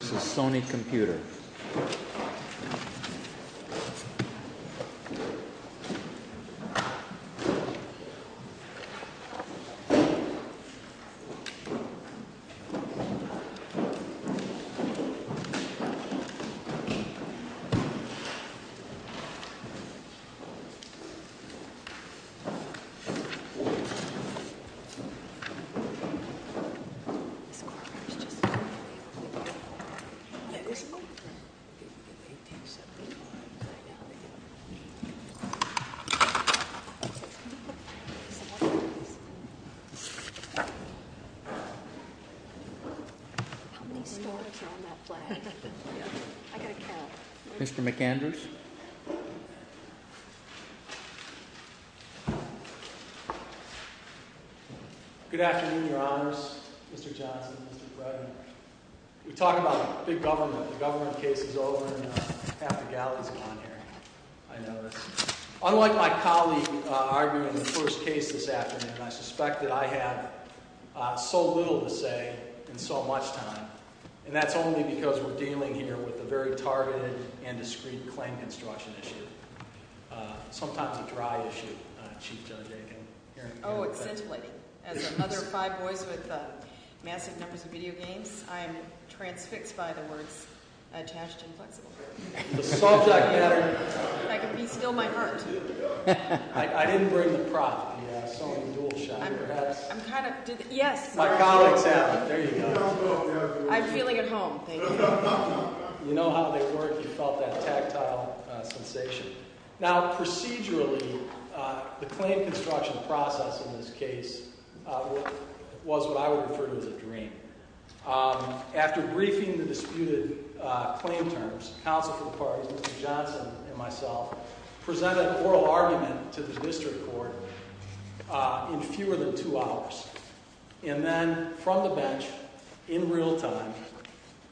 This is a Sony computer. Mr. McAndrews. Good afternoon, your honors. Mr. Johnson, Mr. Bredin. We talk about big government. The government case is over and half the galley's gone here. I know this. Unlike my colleague arguing the first case this afternoon, I suspect that I have so little to say in so much time. And that's only because we're dealing here with a very targeted and discreet claim construction issue. Sometimes a dry issue, Chief Judge Aiken. Oh, it's scintillating. As another five boys with massive numbers of video games, I'm transfixed by the words attached and flexible. The subject matter. I can be still my heart. I didn't bring the prop, the Sony DualShock. I'm kind of, did the, yes. My colleagues have them, there you go. I'm feeling at home, thank you. You know how they work. You felt that tactile sensation. Now, procedurally, the claim construction process in this case was what I would refer to as a dream. After briefing the disputed claim terms, counsel for the parties, Mr. Johnson and myself, presented an oral argument to the district court in fewer than two hours. And then, from the bench, in real time,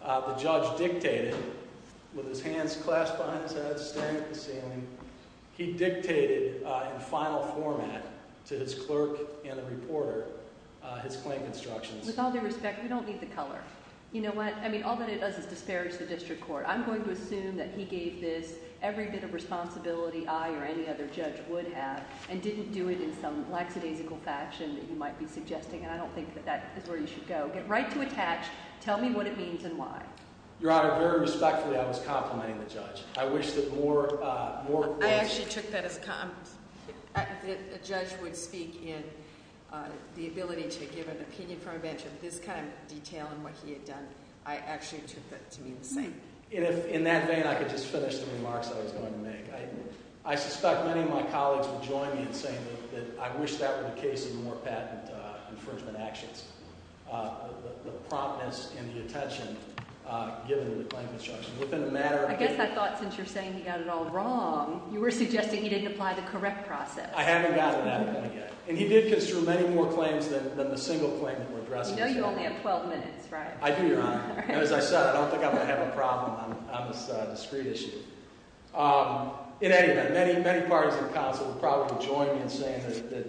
the judge dictated, with his hands clasped behind his head, staring at the ceiling, he dictated in final format to his clerk and the reporter his claim constructions. With all due respect, we don't need the color. You know what? I mean, all that it does is disparage the district court. I'm going to assume that he gave this every bit of responsibility I or any other judge would have and didn't do it in some lackadaisical fashion that you might be suggesting. And I don't think that that is where you should go. Get right to attach. Tell me what it means and why. Your Honor, very respectfully, I was complimenting the judge. I wish that more, more. I actually took that as a compliment. A judge would speak in the ability to give an opinion from a bench of this kind of detail and what he had done. I actually took that to mean the same. In that vein, I could just finish the remarks I was going to make. I suspect many of my colleagues will join me in saying that I wish that were the case in more patent infringement actions, the promptness and the attention given to the claim construction. I guess I thought since you're saying he got it all wrong, you were suggesting he didn't apply the correct process. I haven't gotten to that point yet. And he did construe many more claims than the single claim that we're addressing. You know you only have 12 minutes, right? I do, Your Honor. And as I said, I don't think I'm going to have a problem on this discrete issue. In any event, many parties in the council will probably join me in saying that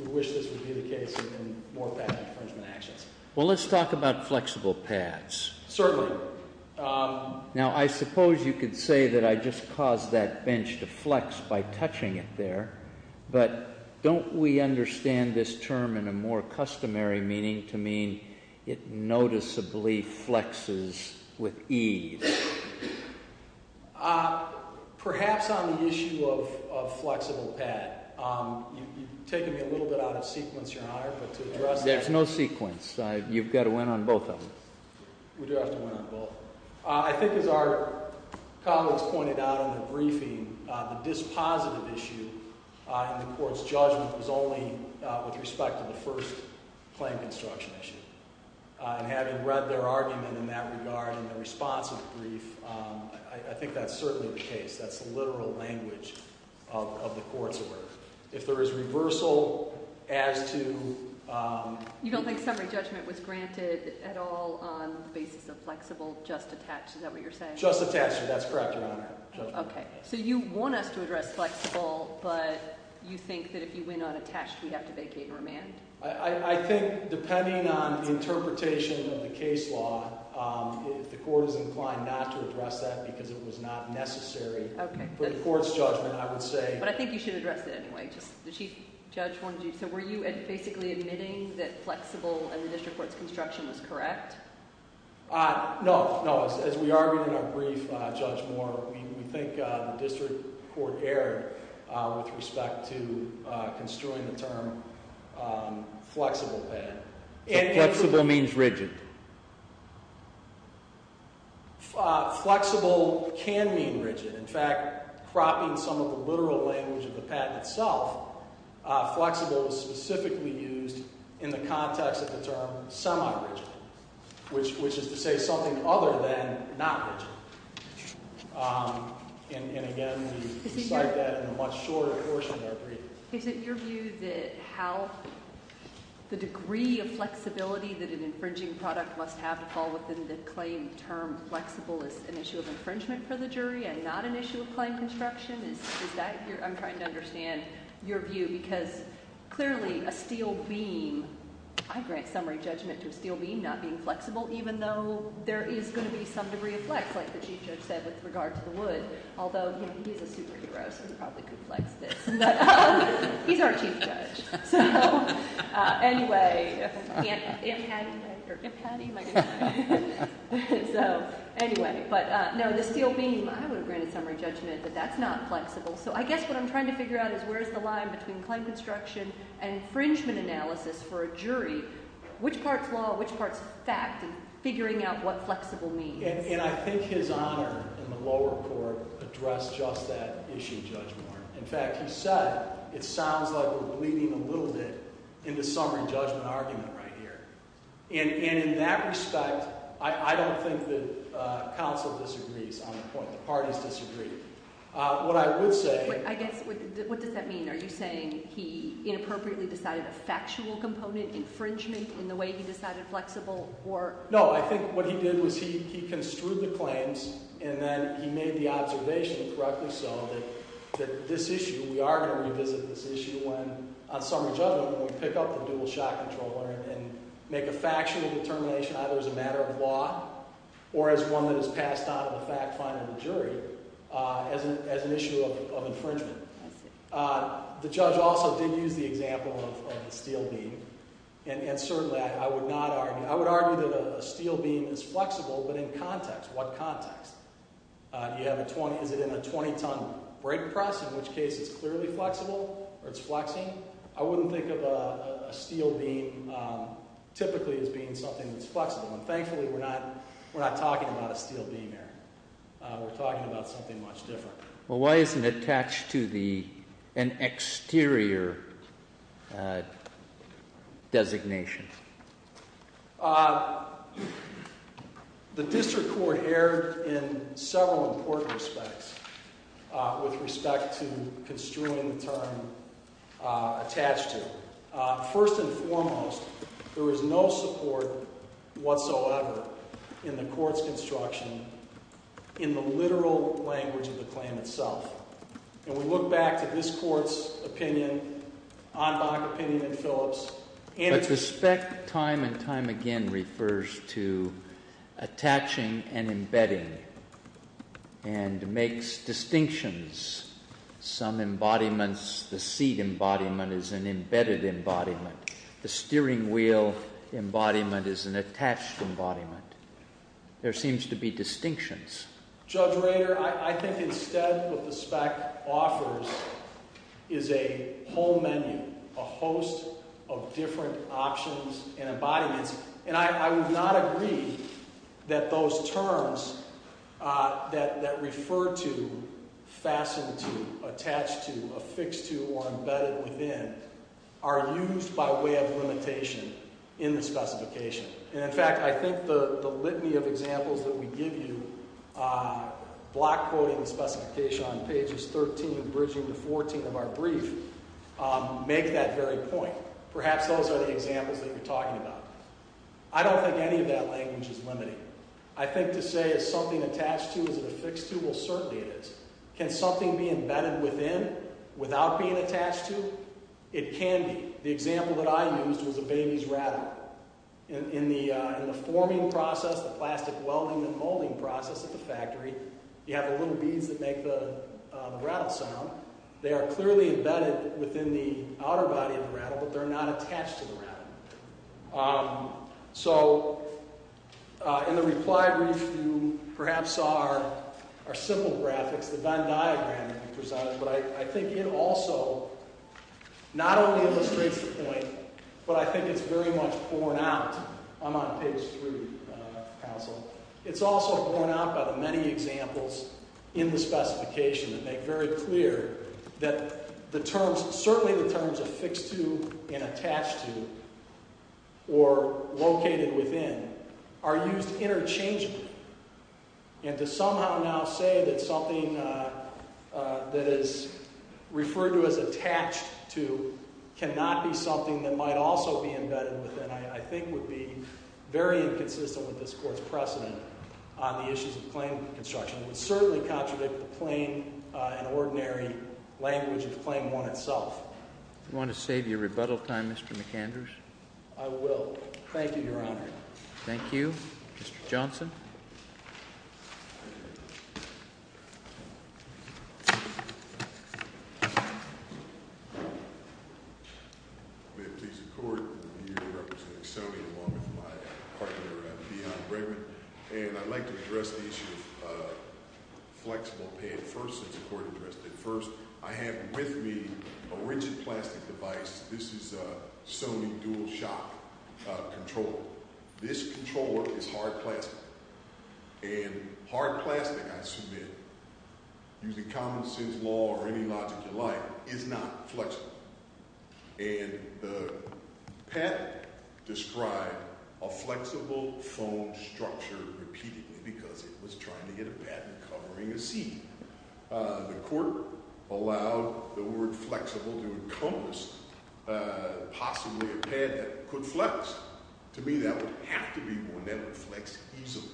we wish this would be the case in more patent infringement actions. Well, let's talk about flexible paths. Certainly. Now, I suppose you could say that I just caused that bench to flex by touching it there. But don't we understand this term in a more customary meaning to mean it noticeably flexes with ease? Perhaps on the issue of flexible path. You've taken me a little bit out of sequence, Your Honor, but to address that. There's no sequence. You've got to win on both of them. We do have to win on both. I think as our colleagues pointed out in the briefing, the dispositive issue in the court's judgment was only with respect to the first claim construction issue. And having read their argument in that regard in the response of the brief, I think that's certainly the case. That's the literal language of the court's order. If there is reversal as to... You don't think summary judgment was granted at all on the basis of flexible, just attached? Is that what you're saying? Just attached. That's correct, Your Honor. Okay. So you want us to address flexible, but you think that if you win on attached, we have to vacate and remand? I think depending on the interpretation of the case law, the court is inclined not to address that because it was not necessary. Okay. But the court's judgment, I would say... But I think you should address it anyway. The chief judge wanted you to... So were you basically admitting that flexible in the district court's construction was correct? No. As we argued in our brief, Judge Moore, we think the district court erred with respect to construing the term flexible bed. Flexible means rigid. Flexible can mean rigid. In fact, cropping some of the literal language of the patent itself, flexible is specifically used in the context of the term semi-rigid, which is to say something other than not rigid. And again, we cite that in a much shorter portion of our brief. Is it your view that how the degree of flexibility that an infringing product must have to fall within the claim term flexible is an issue of infringement for the jury and not an issue of claim construction? I'm trying to understand your view because clearly a steel beam, I grant summary judgment to a steel beam not being flexible, even though there is going to be some degree of flex, like the chief judge said with regard to the wood, although he's a superhero so he probably could flex this, but he's our chief judge. So anyway, if had he, or if had he, my goodness. So anyway, but no, the steel beam, I would have granted summary judgment, but that's not flexible. So I guess what I'm trying to figure out is where's the line between claim construction and infringement analysis for a jury, which part's law, which part's fact, and figuring out what flexible means. And I think his honor in the lower court addressed just that issue, Judge Moore. In fact, he said it sounds like we're bleeding a little bit in the summary judgment argument right here. And in that respect, I don't think that counsel disagrees on the point. The parties disagree. What I would say- I guess, what does that mean? Are you saying he inappropriately decided a factual component infringement in the way he decided flexible or- No, I think what he did was he construed the claims and then he made the observation, correctly so, that this issue, we are going to revisit this issue when, on summary judgment, when we pick up the dual shot controller and make a factual determination either as a matter of law or as one that is passed on to the fact-finding jury as an issue of infringement. The judge also did use the example of the steel beam. And certainly, I would not argue- I would argue that a steel beam is flexible, but in context. What context? Is it in a 20-ton brick press, in which case it's clearly flexible or it's flexing? I wouldn't think of a steel beam typically as being something that's flexible. And thankfully, we're not talking about a steel beam here. We're talking about something much different. Well, why isn't it attached to an exterior designation? The district court erred in several important respects with respect to construing the term attached to. First and foremost, there is no support whatsoever in the court's construction in the literal language of the claim itself. And we look back to this court's opinion, Anbach's opinion, and Phillips. But respect time and time again refers to attaching and embedding and makes distinctions. Some embodiments, the seat embodiment is an embedded embodiment. The steering wheel embodiment is an attached embodiment. There seems to be distinctions. Judge Rader, I think instead what the spec offers is a whole menu, a host of different options and embodiments. And I would not agree that those terms that refer to, fasten to, attach to, affix to, or embedded within are used by way of limitation in the specification. And in fact, I think the litany of examples that we give you, block quoting the specification on pages 13 and bridging to 14 of our brief, make that very point. Perhaps those are the examples that you're talking about. I don't think any of that language is limiting. I think to say is something attached to, is it affixed to, well certainly it is. Can something be embedded within without being attached to? It can be. The example that I used was a baby's rattle. In the forming process, the plastic welding and molding process at the factory, you have the little beads that make the rattle sound. They are clearly embedded within the outer body of the rattle, but they're not attached to the rattle. So, in the reply brief, you perhaps saw our simple graphics, the Venn diagram, to be precise. But I think it also not only illustrates the point, but I think it's very much borne out. I'm on page three, counsel. It's also borne out by the many examples in the specification that make very clear that the terms, certainly the terms affixed to and attached to, or located within, are used interchangeably. And to somehow now say that something that is referred to as attached to cannot be something that might also be embedded within, I think would be very inconsistent with this court's precedent on the issues of claim construction. It would certainly contradict the plain and ordinary language of claim one itself. Do you want to save your rebuttal time, Mr. McAndrews? I will. Thank you, Your Honor. Thank you. Mr. Johnson. May it please the court, I'm here representing Sony along with my partner, Dion Bregman. And I'd like to address the issue of flexible pad first, since the court addressed it first. I have with me a rigid plastic device. This is a Sony DualShock controller. This controller is hard plastic. And hard plastic, I submit, using common sense law or any logic you like, is not flexible. And the patent described a flexible foam structure repeatedly because it was trying to get a patent covering a seat. The court allowed the word flexible to encompass possibly a pad that could flex. To me, that would have to be one that would flex easily.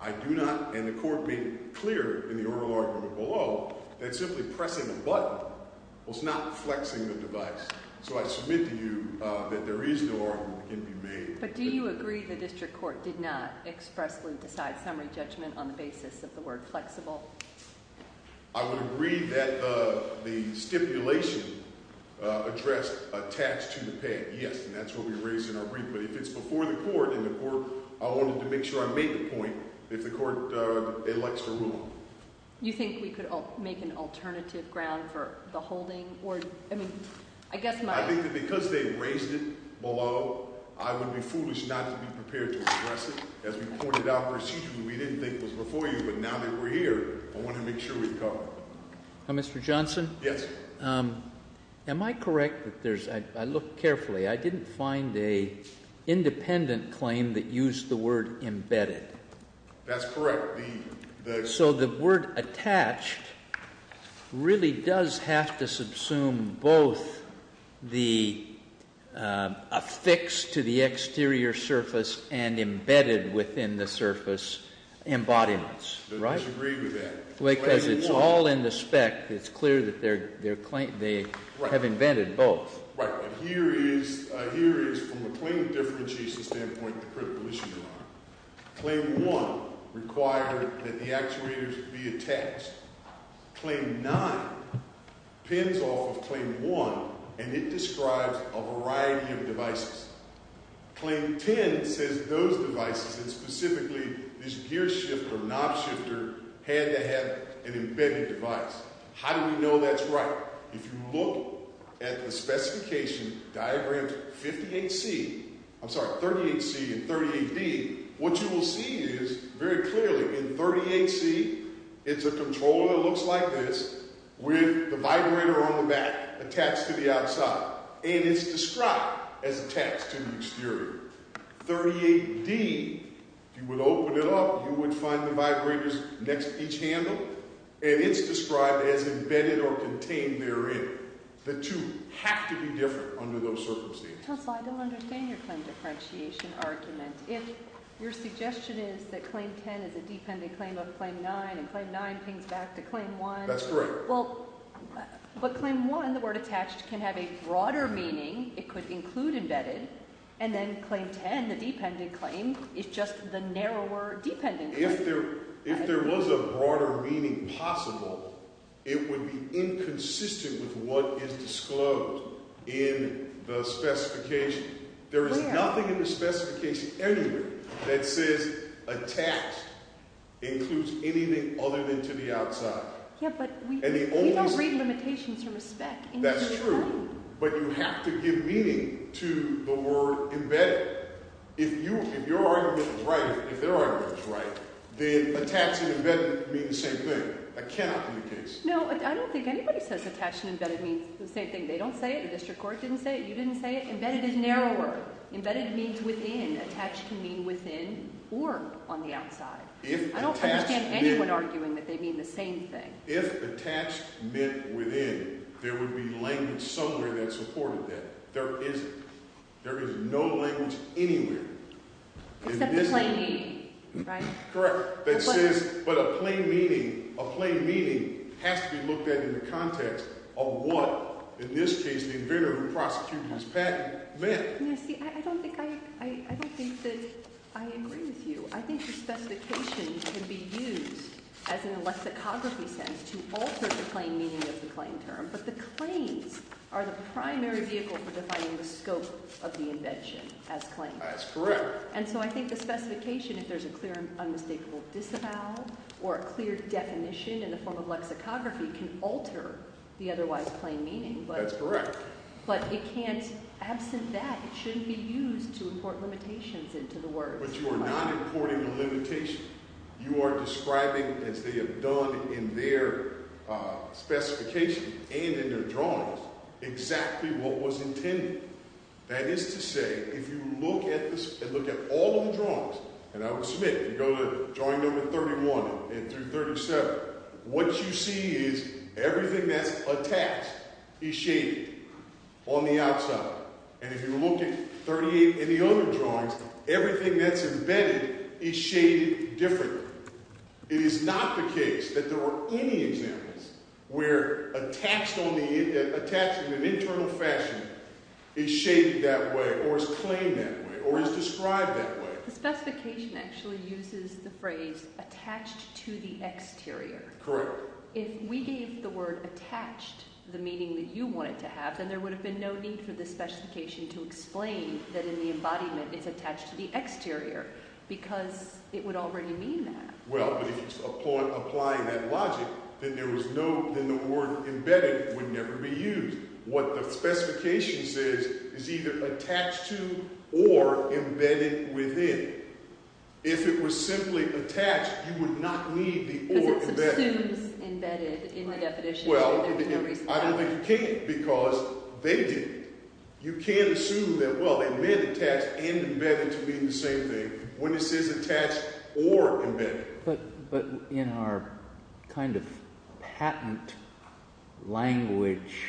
I do not, and the court made it clear in the oral argument below, that simply pressing a button was not flexing the device. So I submit to you that there is no argument that can be made. But do you agree the district court did not expressly decide summary judgment on the basis of the word flexible? I would agree that the stipulation addressed a tax to the pad, yes. And that's what we raised in our brief. But if it's before the court, and the court, I wanted to make sure I made the point, if the court elects to rule. You think we could make an alternative ground for the holding? Or, I mean, I guess my- I think that because they raised it below, I would be foolish not to be prepared to address it. As we pointed out procedurally, we didn't think it was before you. But now that we're here, I want to make sure we cover it. Mr. Johnson? Yes. Am I correct that there's- I looked carefully. I didn't find a independent claim that used the word embedded. That's correct. So the word attached really does have to subsume both the affixed to the exterior surface and embedded within the surface embodiments, right? I disagree with that. Because it's all in the spec. It's clear that they have invented both. Right. Here is, from a claim differentiation standpoint, the critical issue you're on. Claim one required that the actuators be attached. Claim nine pens off of claim one, and it describes a variety of devices. Claim ten says those devices, and specifically this gear shifter or knob shifter, had to have an embedded device. How do we know that's right? If you look at the specification diagram 58C- I'm sorry, 38C and 38D, what you will see is, very clearly, in 38C, it's a controller that looks like this with the vibrator on the back attached to the outside. And it's described as attached to the exterior. 38D, if you would open it up, you would find the vibrators next to each handle. And it's described as embedded or contained therein. The two have to be different under those circumstances. Counselor, I don't understand your claim differentiation argument. If your suggestion is that claim ten is a dependent claim of claim nine, and claim nine pings back to claim one. That's correct. Well, but claim one, the word attached, can have a broader meaning. It could include embedded. And then claim ten, the dependent claim, is just the narrower dependent. If there was a broader meaning possible, it would be inconsistent with what is disclosed in the specification. There is nothing in the specification anywhere that says attached includes anything other than to the outside. Yeah, but we don't read limitations from a spec. That's true. But you have to give meaning to the word embedded. If your argument is right, if their argument is right, then attached and embedded mean the same thing. That cannot be the case. No, I don't think anybody says attached and embedded means the same thing. They don't say it. The district court didn't say it. You didn't say it. Embedded is narrower. Embedded means within. Attached can mean within or on the outside. I don't understand anyone arguing that they mean the same thing. If attached meant within, there would be language somewhere that supported that. There isn't. There is no language anywhere. Except the plain meaning, right? Correct. But a plain meaning has to be looked at in the context of what, in this case, the inventor who prosecuted this patent meant. I don't think that I agree with you. I think the specification can be used as in a lexicography sense to alter the plain meaning of the claim term. But the claims are the primary vehicle for defining the scope of the invention as claimed. That's correct. And so I think the specification, if there's a clear and unmistakable disavowal or a clear definition in the form of lexicography, can alter the otherwise plain meaning. That's correct. But it can't, absent that, it shouldn't be used to import limitations into the words. But you are not importing a limitation. You are describing, as they have done in their specification and in their drawings, exactly what was intended. That is to say, if you look at all of the drawings, and I would submit, if you go to drawing number 31 and through 37, what you see is everything that's attached is shaded on the outside. And if you look at 38 and the other drawings, everything that's invented is shaded differently. It is not the case that there were any examples where attached in an internal fashion is shaded that way or is claimed that way or is described that way. The specification actually uses the phrase attached to the exterior. Correct. However, if we gave the word attached the meaning that you wanted to have, then there would have been no need for the specification to explain that in the embodiment it's attached to the exterior because it would already mean that. Well, but if it's applying that logic, then the word embedded would never be used. What the specification says is either attached to or embedded within. If it was simply attached, you would not need the or embedded. Because it assumes embedded in the definition. Well, I don't think you can because they didn't. You can assume that, well, they meant attached and embedded to mean the same thing when it says attached or embedded. But in our kind of patent language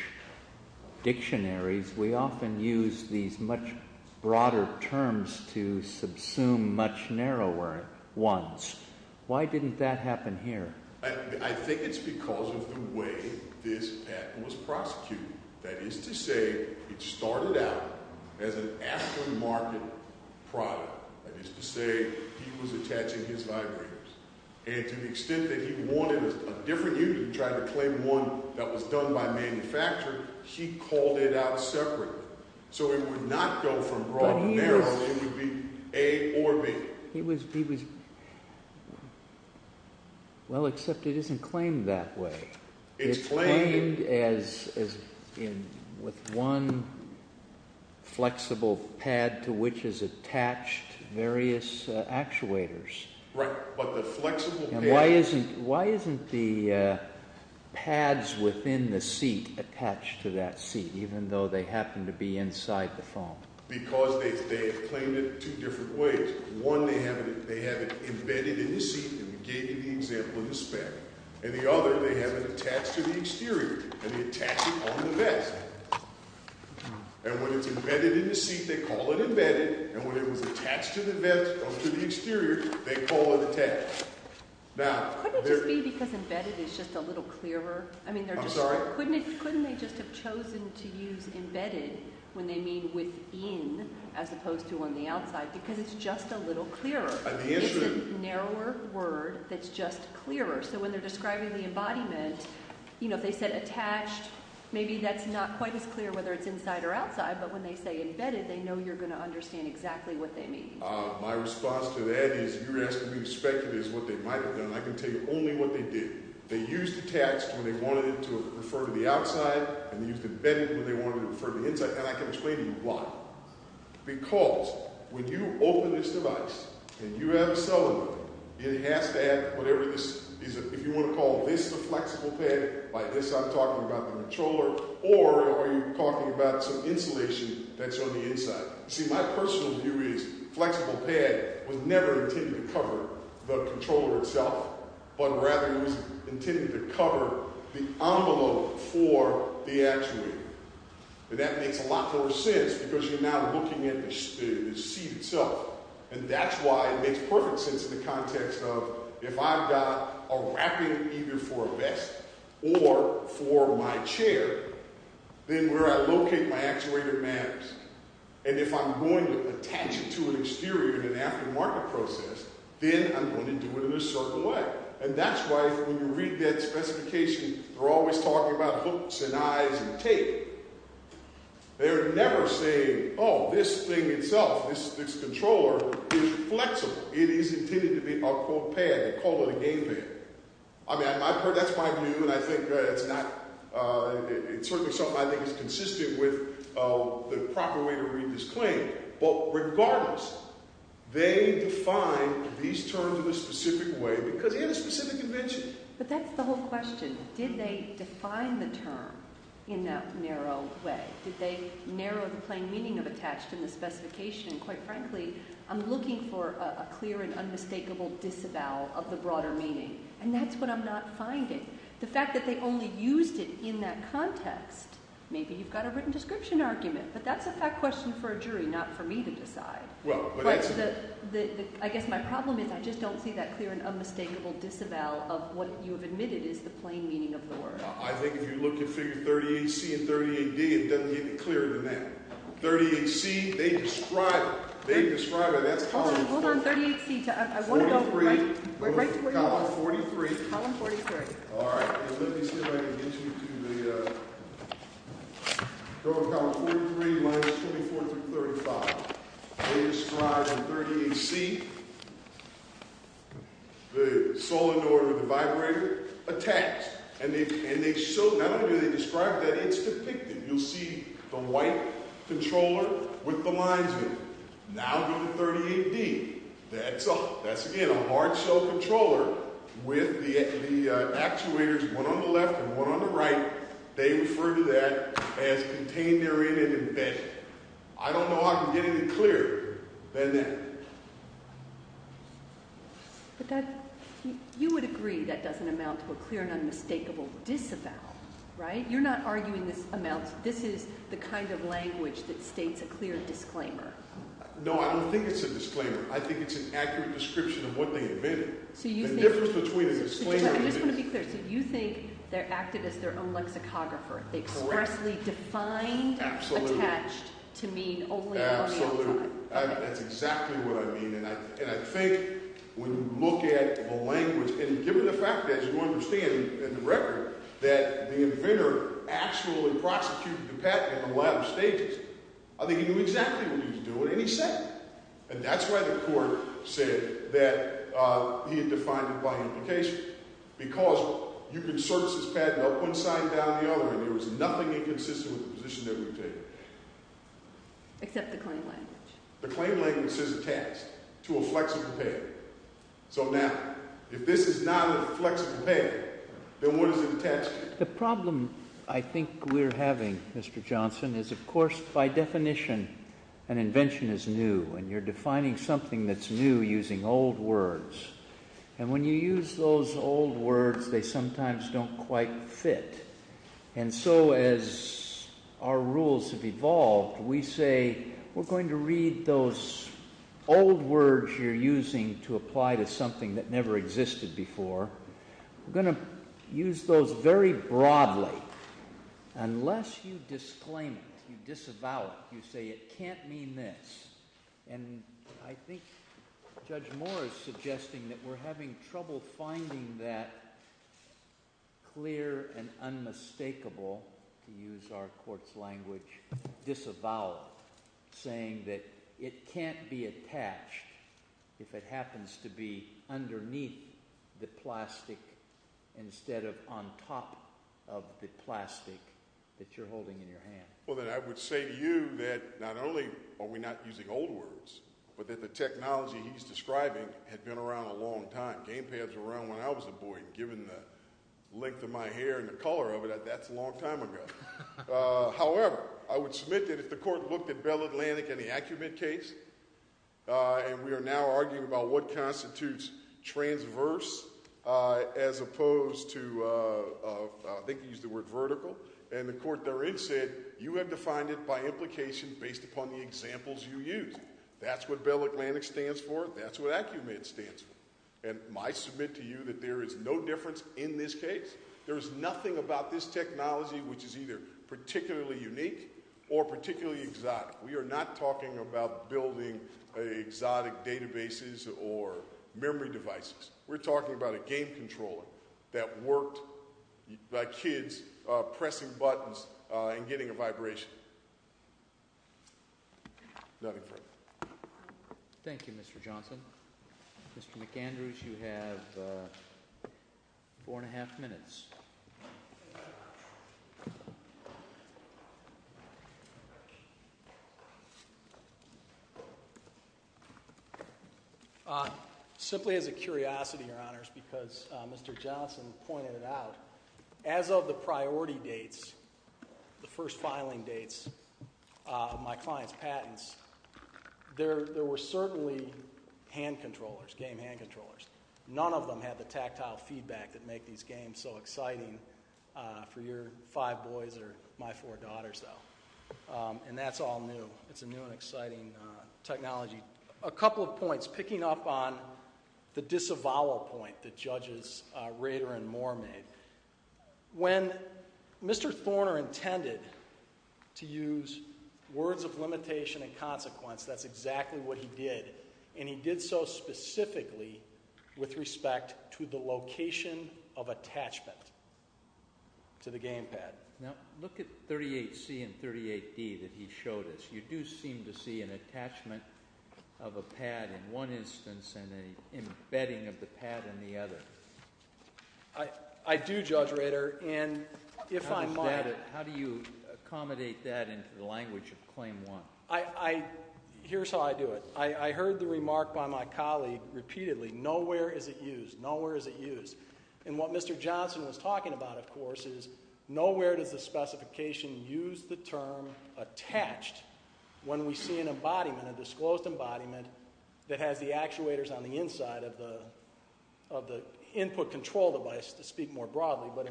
dictionaries, we often use these much broader terms to subsume much narrower ones. Why didn't that happen here? I think it's because of the way this patent was prosecuted. That is to say it started out as an aftermarket product. That is to say he was attaching his vibrators. And to the extent that he wanted a different unit and tried to claim one that was done by manufacturer, he called it out separately. So it would not go from raw to narrow. It would be A or B. He was, well, except it isn't claimed that way. It's claimed as in with one flexible pad to which is attached. Various actuators. Right. But the flexible pad. Why isn't the pads within the seat attached to that seat even though they happen to be inside the foam? Because they claimed it two different ways. One, they have it embedded in the seat and gave you the example in the spec. And the other, they have it attached to the exterior and they attach it on the vest. And when it's embedded in the seat, they call it embedded. And when it was attached to the vest or to the exterior, they call it attached. Couldn't it just be because embedded is just a little clearer? I'm sorry? Couldn't they just have chosen to use embedded when they mean within as opposed to on the outside because it's just a little clearer? It's a narrower word that's just clearer. So when they're describing the embodiment, you know, if they said attached, maybe that's not quite as clear whether it's inside or outside. But when they say embedded, they know you're going to understand exactly what they mean. My response to that is you're asking me to speculate as to what they might have done. I can tell you only what they did. They used attached when they wanted it to refer to the outside. And they used embedded when they wanted it to refer to the inside. And I can explain to you why. Because when you open this device and you have a cell in it, it has to have whatever this is. If you want to call this the flexible pad, by this I'm talking about the controller. Or are you talking about some insulation that's on the inside? See, my personal view is flexible pad was never intended to cover the controller itself. But rather it was intended to cover the envelope for the actuator. And that makes a lot more sense because you're now looking at the seat itself. And that's why it makes perfect sense in the context of if I've got a wrapping either for a vest or for my chair, then where I locate my actuator maps, and if I'm going to attach it to an exterior in an aftermarket process, then I'm going to do it in a certain way. And that's why when you read that specification, they're always talking about hooks and eyes and tape. They're never saying, oh, this thing itself, this controller is flexible. It is intended to be a, quote, pad. They call it a game pad. I mean, that's my view, and I think it's not – it's certainly something I think is consistent with the proper way to read this claim. But regardless, they defined these terms in a specific way because they had a specific invention. But that's the whole question. Did they define the term in that narrow way? Did they narrow the plain meaning of attached in the specification? Quite frankly, I'm looking for a clear and unmistakable disavowal of the broader meaning, and that's what I'm not finding. The fact that they only used it in that context, maybe you've got a written description argument, but that's a fact question for a jury, not for me to decide. But I guess my problem is I just don't see that clear and unmistakable disavowal of what you have admitted is the plain meaning of the word. I think if you look at figure 38C and 38D, it doesn't get any clearer than that. 38C, they describe it. They describe it as column 43. Hold on, hold on. 38C, I want to go right to where you are. 43. Column 43. All right. Let me see if I can get you to the column 43 minus 24 through 35. They describe in 38C the solenoid or the vibrator attached. And they show, not only do they describe it, but it's depicted. You'll see the white controller with the lines in it. Now do the 38D. That's, again, a hard-shell controller with the actuators, one on the left and one on the right. They refer to that as contained therein and embedded. I don't know how I can get any clearer than that. But that, you would agree that doesn't amount to a clear and unmistakable disavowal, right? You're not arguing this amounts, this is the kind of language that states a clear disclaimer. No, I don't think it's a disclaimer. I think it's an accurate description of what they invented. The difference between a disclaimer and a disclaimer. I just want to be clear. So you think they're acting as their own lexicographer. Correct. They expressly defined attached to mean only an audio form. Absolutely. That's exactly what I mean. And I think when you look at the language, and given the fact that, as you understand in the record, that the inventor actually prosecuted the patent in a lot of stages, I think he knew exactly what he was doing and he said it. And that's why the court said that he had defined it by implication. Because you can surface this patent up one side and down the other, and there was nothing inconsistent with the position that we've taken. Except the claim language. The claim language says attached to a flexible patent. So now, if this is not a flexible patent, then what is it attached to? The problem I think we're having, Mr. Johnson, is of course by definition an invention is new. And you're defining something that's new using old words. And when you use those old words, they sometimes don't quite fit. And so as our rules have evolved, we say we're going to read those old words you're using to apply to something that never existed before. We're going to use those very broadly. Unless you disclaim it, you disavow it, you say it can't mean this. And I think Judge Moore is suggesting that we're having trouble finding that clear and unmistakable, to use our court's language, disavow saying that it can't be attached if it happens to be underneath the plastic instead of on top of the plastic that you're holding in your hand. Well, then I would say to you that not only are we not using old words, but that the technology he's describing had been around a long time. Game pads were around when I was a boy, and given the length of my hair and the color of it, that's a long time ago. However, I would submit that if the court looked at Bell Atlantic and the AcuMed case, and we are now arguing about what constitutes transverse as opposed to, I think you used the word vertical. And the court therein said, you have defined it by implication based upon the examples you used. That's what Bell Atlantic stands for. That's what AcuMed stands for. And I submit to you that there is no difference in this case. There is nothing about this technology which is either particularly unique or particularly exotic. We are not talking about building exotic databases or memory devices. We're talking about a game controller that worked by kids pressing buttons and getting a vibration. Nothing further. Thank you, Mr. Johnson. Mr. McAndrews, you have four and a half minutes. Simply as a curiosity, Your Honors, because Mr. Johnson pointed it out, as of the priority dates, the first filing dates of my client's patents, there were certainly hand controllers, game hand controllers. None of them had the tactile feedback that make these games so exciting for your five boys or my four daughters, though. And that's all new. It's a new and exciting technology. A couple of points. Picking up on the disavowal point that Judges Rader and Moore made, when Mr. Thorner intended to use words of limitation and consequence, that's exactly what he did. And he did so specifically with respect to the location of attachment to the game pad. Now, look at 38C and 38D that he showed us. You do seem to see an attachment of a pad in one instance and an embedding of the pad in the other. I do, Judge Rader, and if I might. How do you accommodate that into the language of Claim 1? Here's how I do it. I heard the remark by my colleague repeatedly. Nowhere is it used. Nowhere is it used. And what Mr. Johnson was talking about, of course, is nowhere does the specification use the term attached when we see an embodiment, a disclosed embodiment that has the actuators on the inside of the input control device, to speak more broadly, but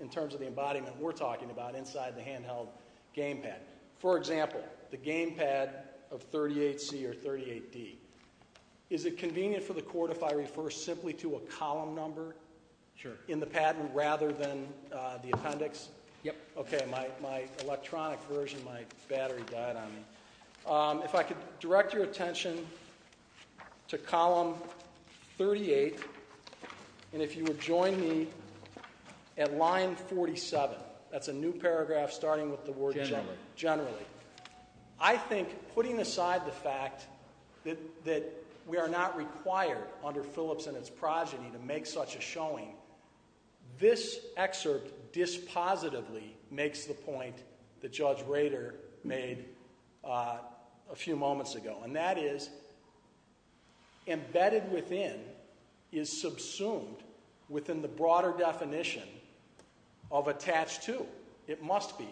in terms of the embodiment we're talking about inside the handheld game pad. For example, the game pad of 38C or 38D. Is it convenient for the court if I refer simply to a column number in the patent rather than the appendix? Yep. Okay, my electronic version, my battery died on me. If I could direct your attention to column 38, and if you would join me at line 47. That's a new paragraph starting with the word- Generally. Generally. I think putting aside the fact that we are not required under Phillips and its progeny to make such a showing, this excerpt dispositively makes the point that Judge Rader made a few moments ago, and that is embedded within is subsumed within the broader definition of attached to. It must be.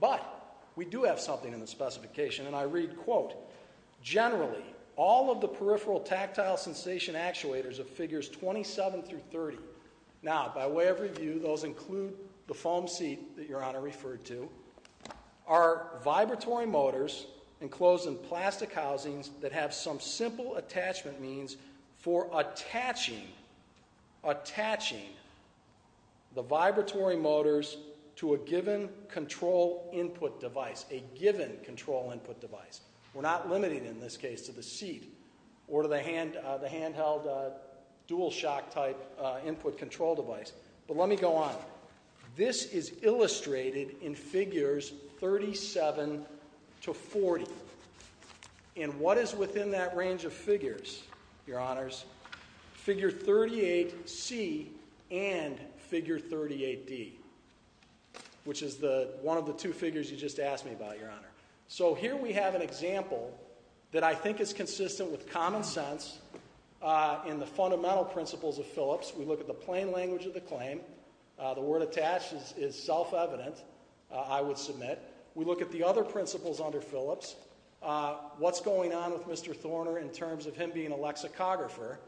But we do have something in the specification, and I read, quote, Generally, all of the peripheral tactile sensation actuators of figures 27 through 30, now, by way of review, those include the foam seat that your Honor referred to, are vibratory motors enclosed in plastic housings that have some simple attachment means for attaching the vibratory motors to a given control input device. A given control input device. We're not limiting, in this case, to the seat or to the handheld dual shock type input control device. But let me go on. This is illustrated in figures 37 to 40. And what is within that range of figures, your Honors? Figure 38C and figure 38D, which is one of the two figures you just asked me about, your Honor. So here we have an example that I think is consistent with common sense in the fundamental principles of Phillips. We look at the plain language of the claim. The word attached is self-evident, I would submit. We look at the other principles under Phillips. What's going on with Mr. Thorner in terms of him being a lexicographer?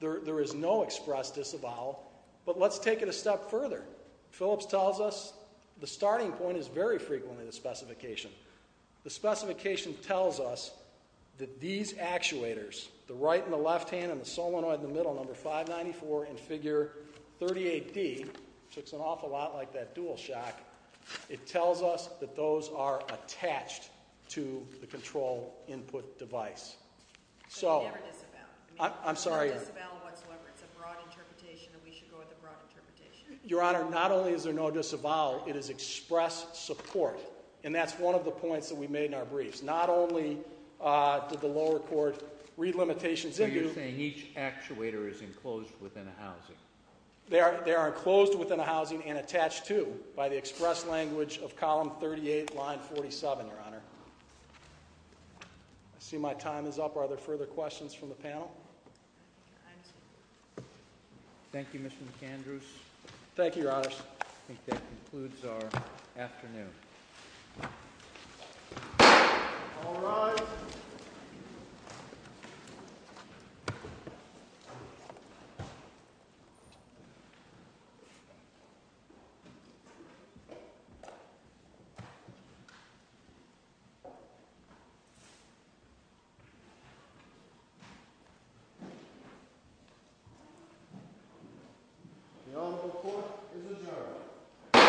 There is no express disavowal. But let's take it a step further. Phillips tells us the starting point is very frequently the specification. The specification tells us that these actuators, the right and the left hand and the solenoid in the middle, number 594, and figure 38D, which looks an awful lot like that dual shock, it tells us that those are attached to the control input device. So I'm sorry. There is no disavowal whatsoever. It's a broad interpretation and we should go with a broad interpretation. Your Honor, not only is there no disavowal, it is express support. And that's one of the points that we made in our briefs. Not only did the lower court read limitations. So you're saying each actuator is enclosed within a housing. They are enclosed within a housing and attached to by the express language of column 38, line 47, your Honor. I see my time is up. Are there further questions from the panel? Thank you, Mr. McAndrews. Thank you, Your Honor. I think that concludes our afternoon. All rise. The Honorable Court is adjourned.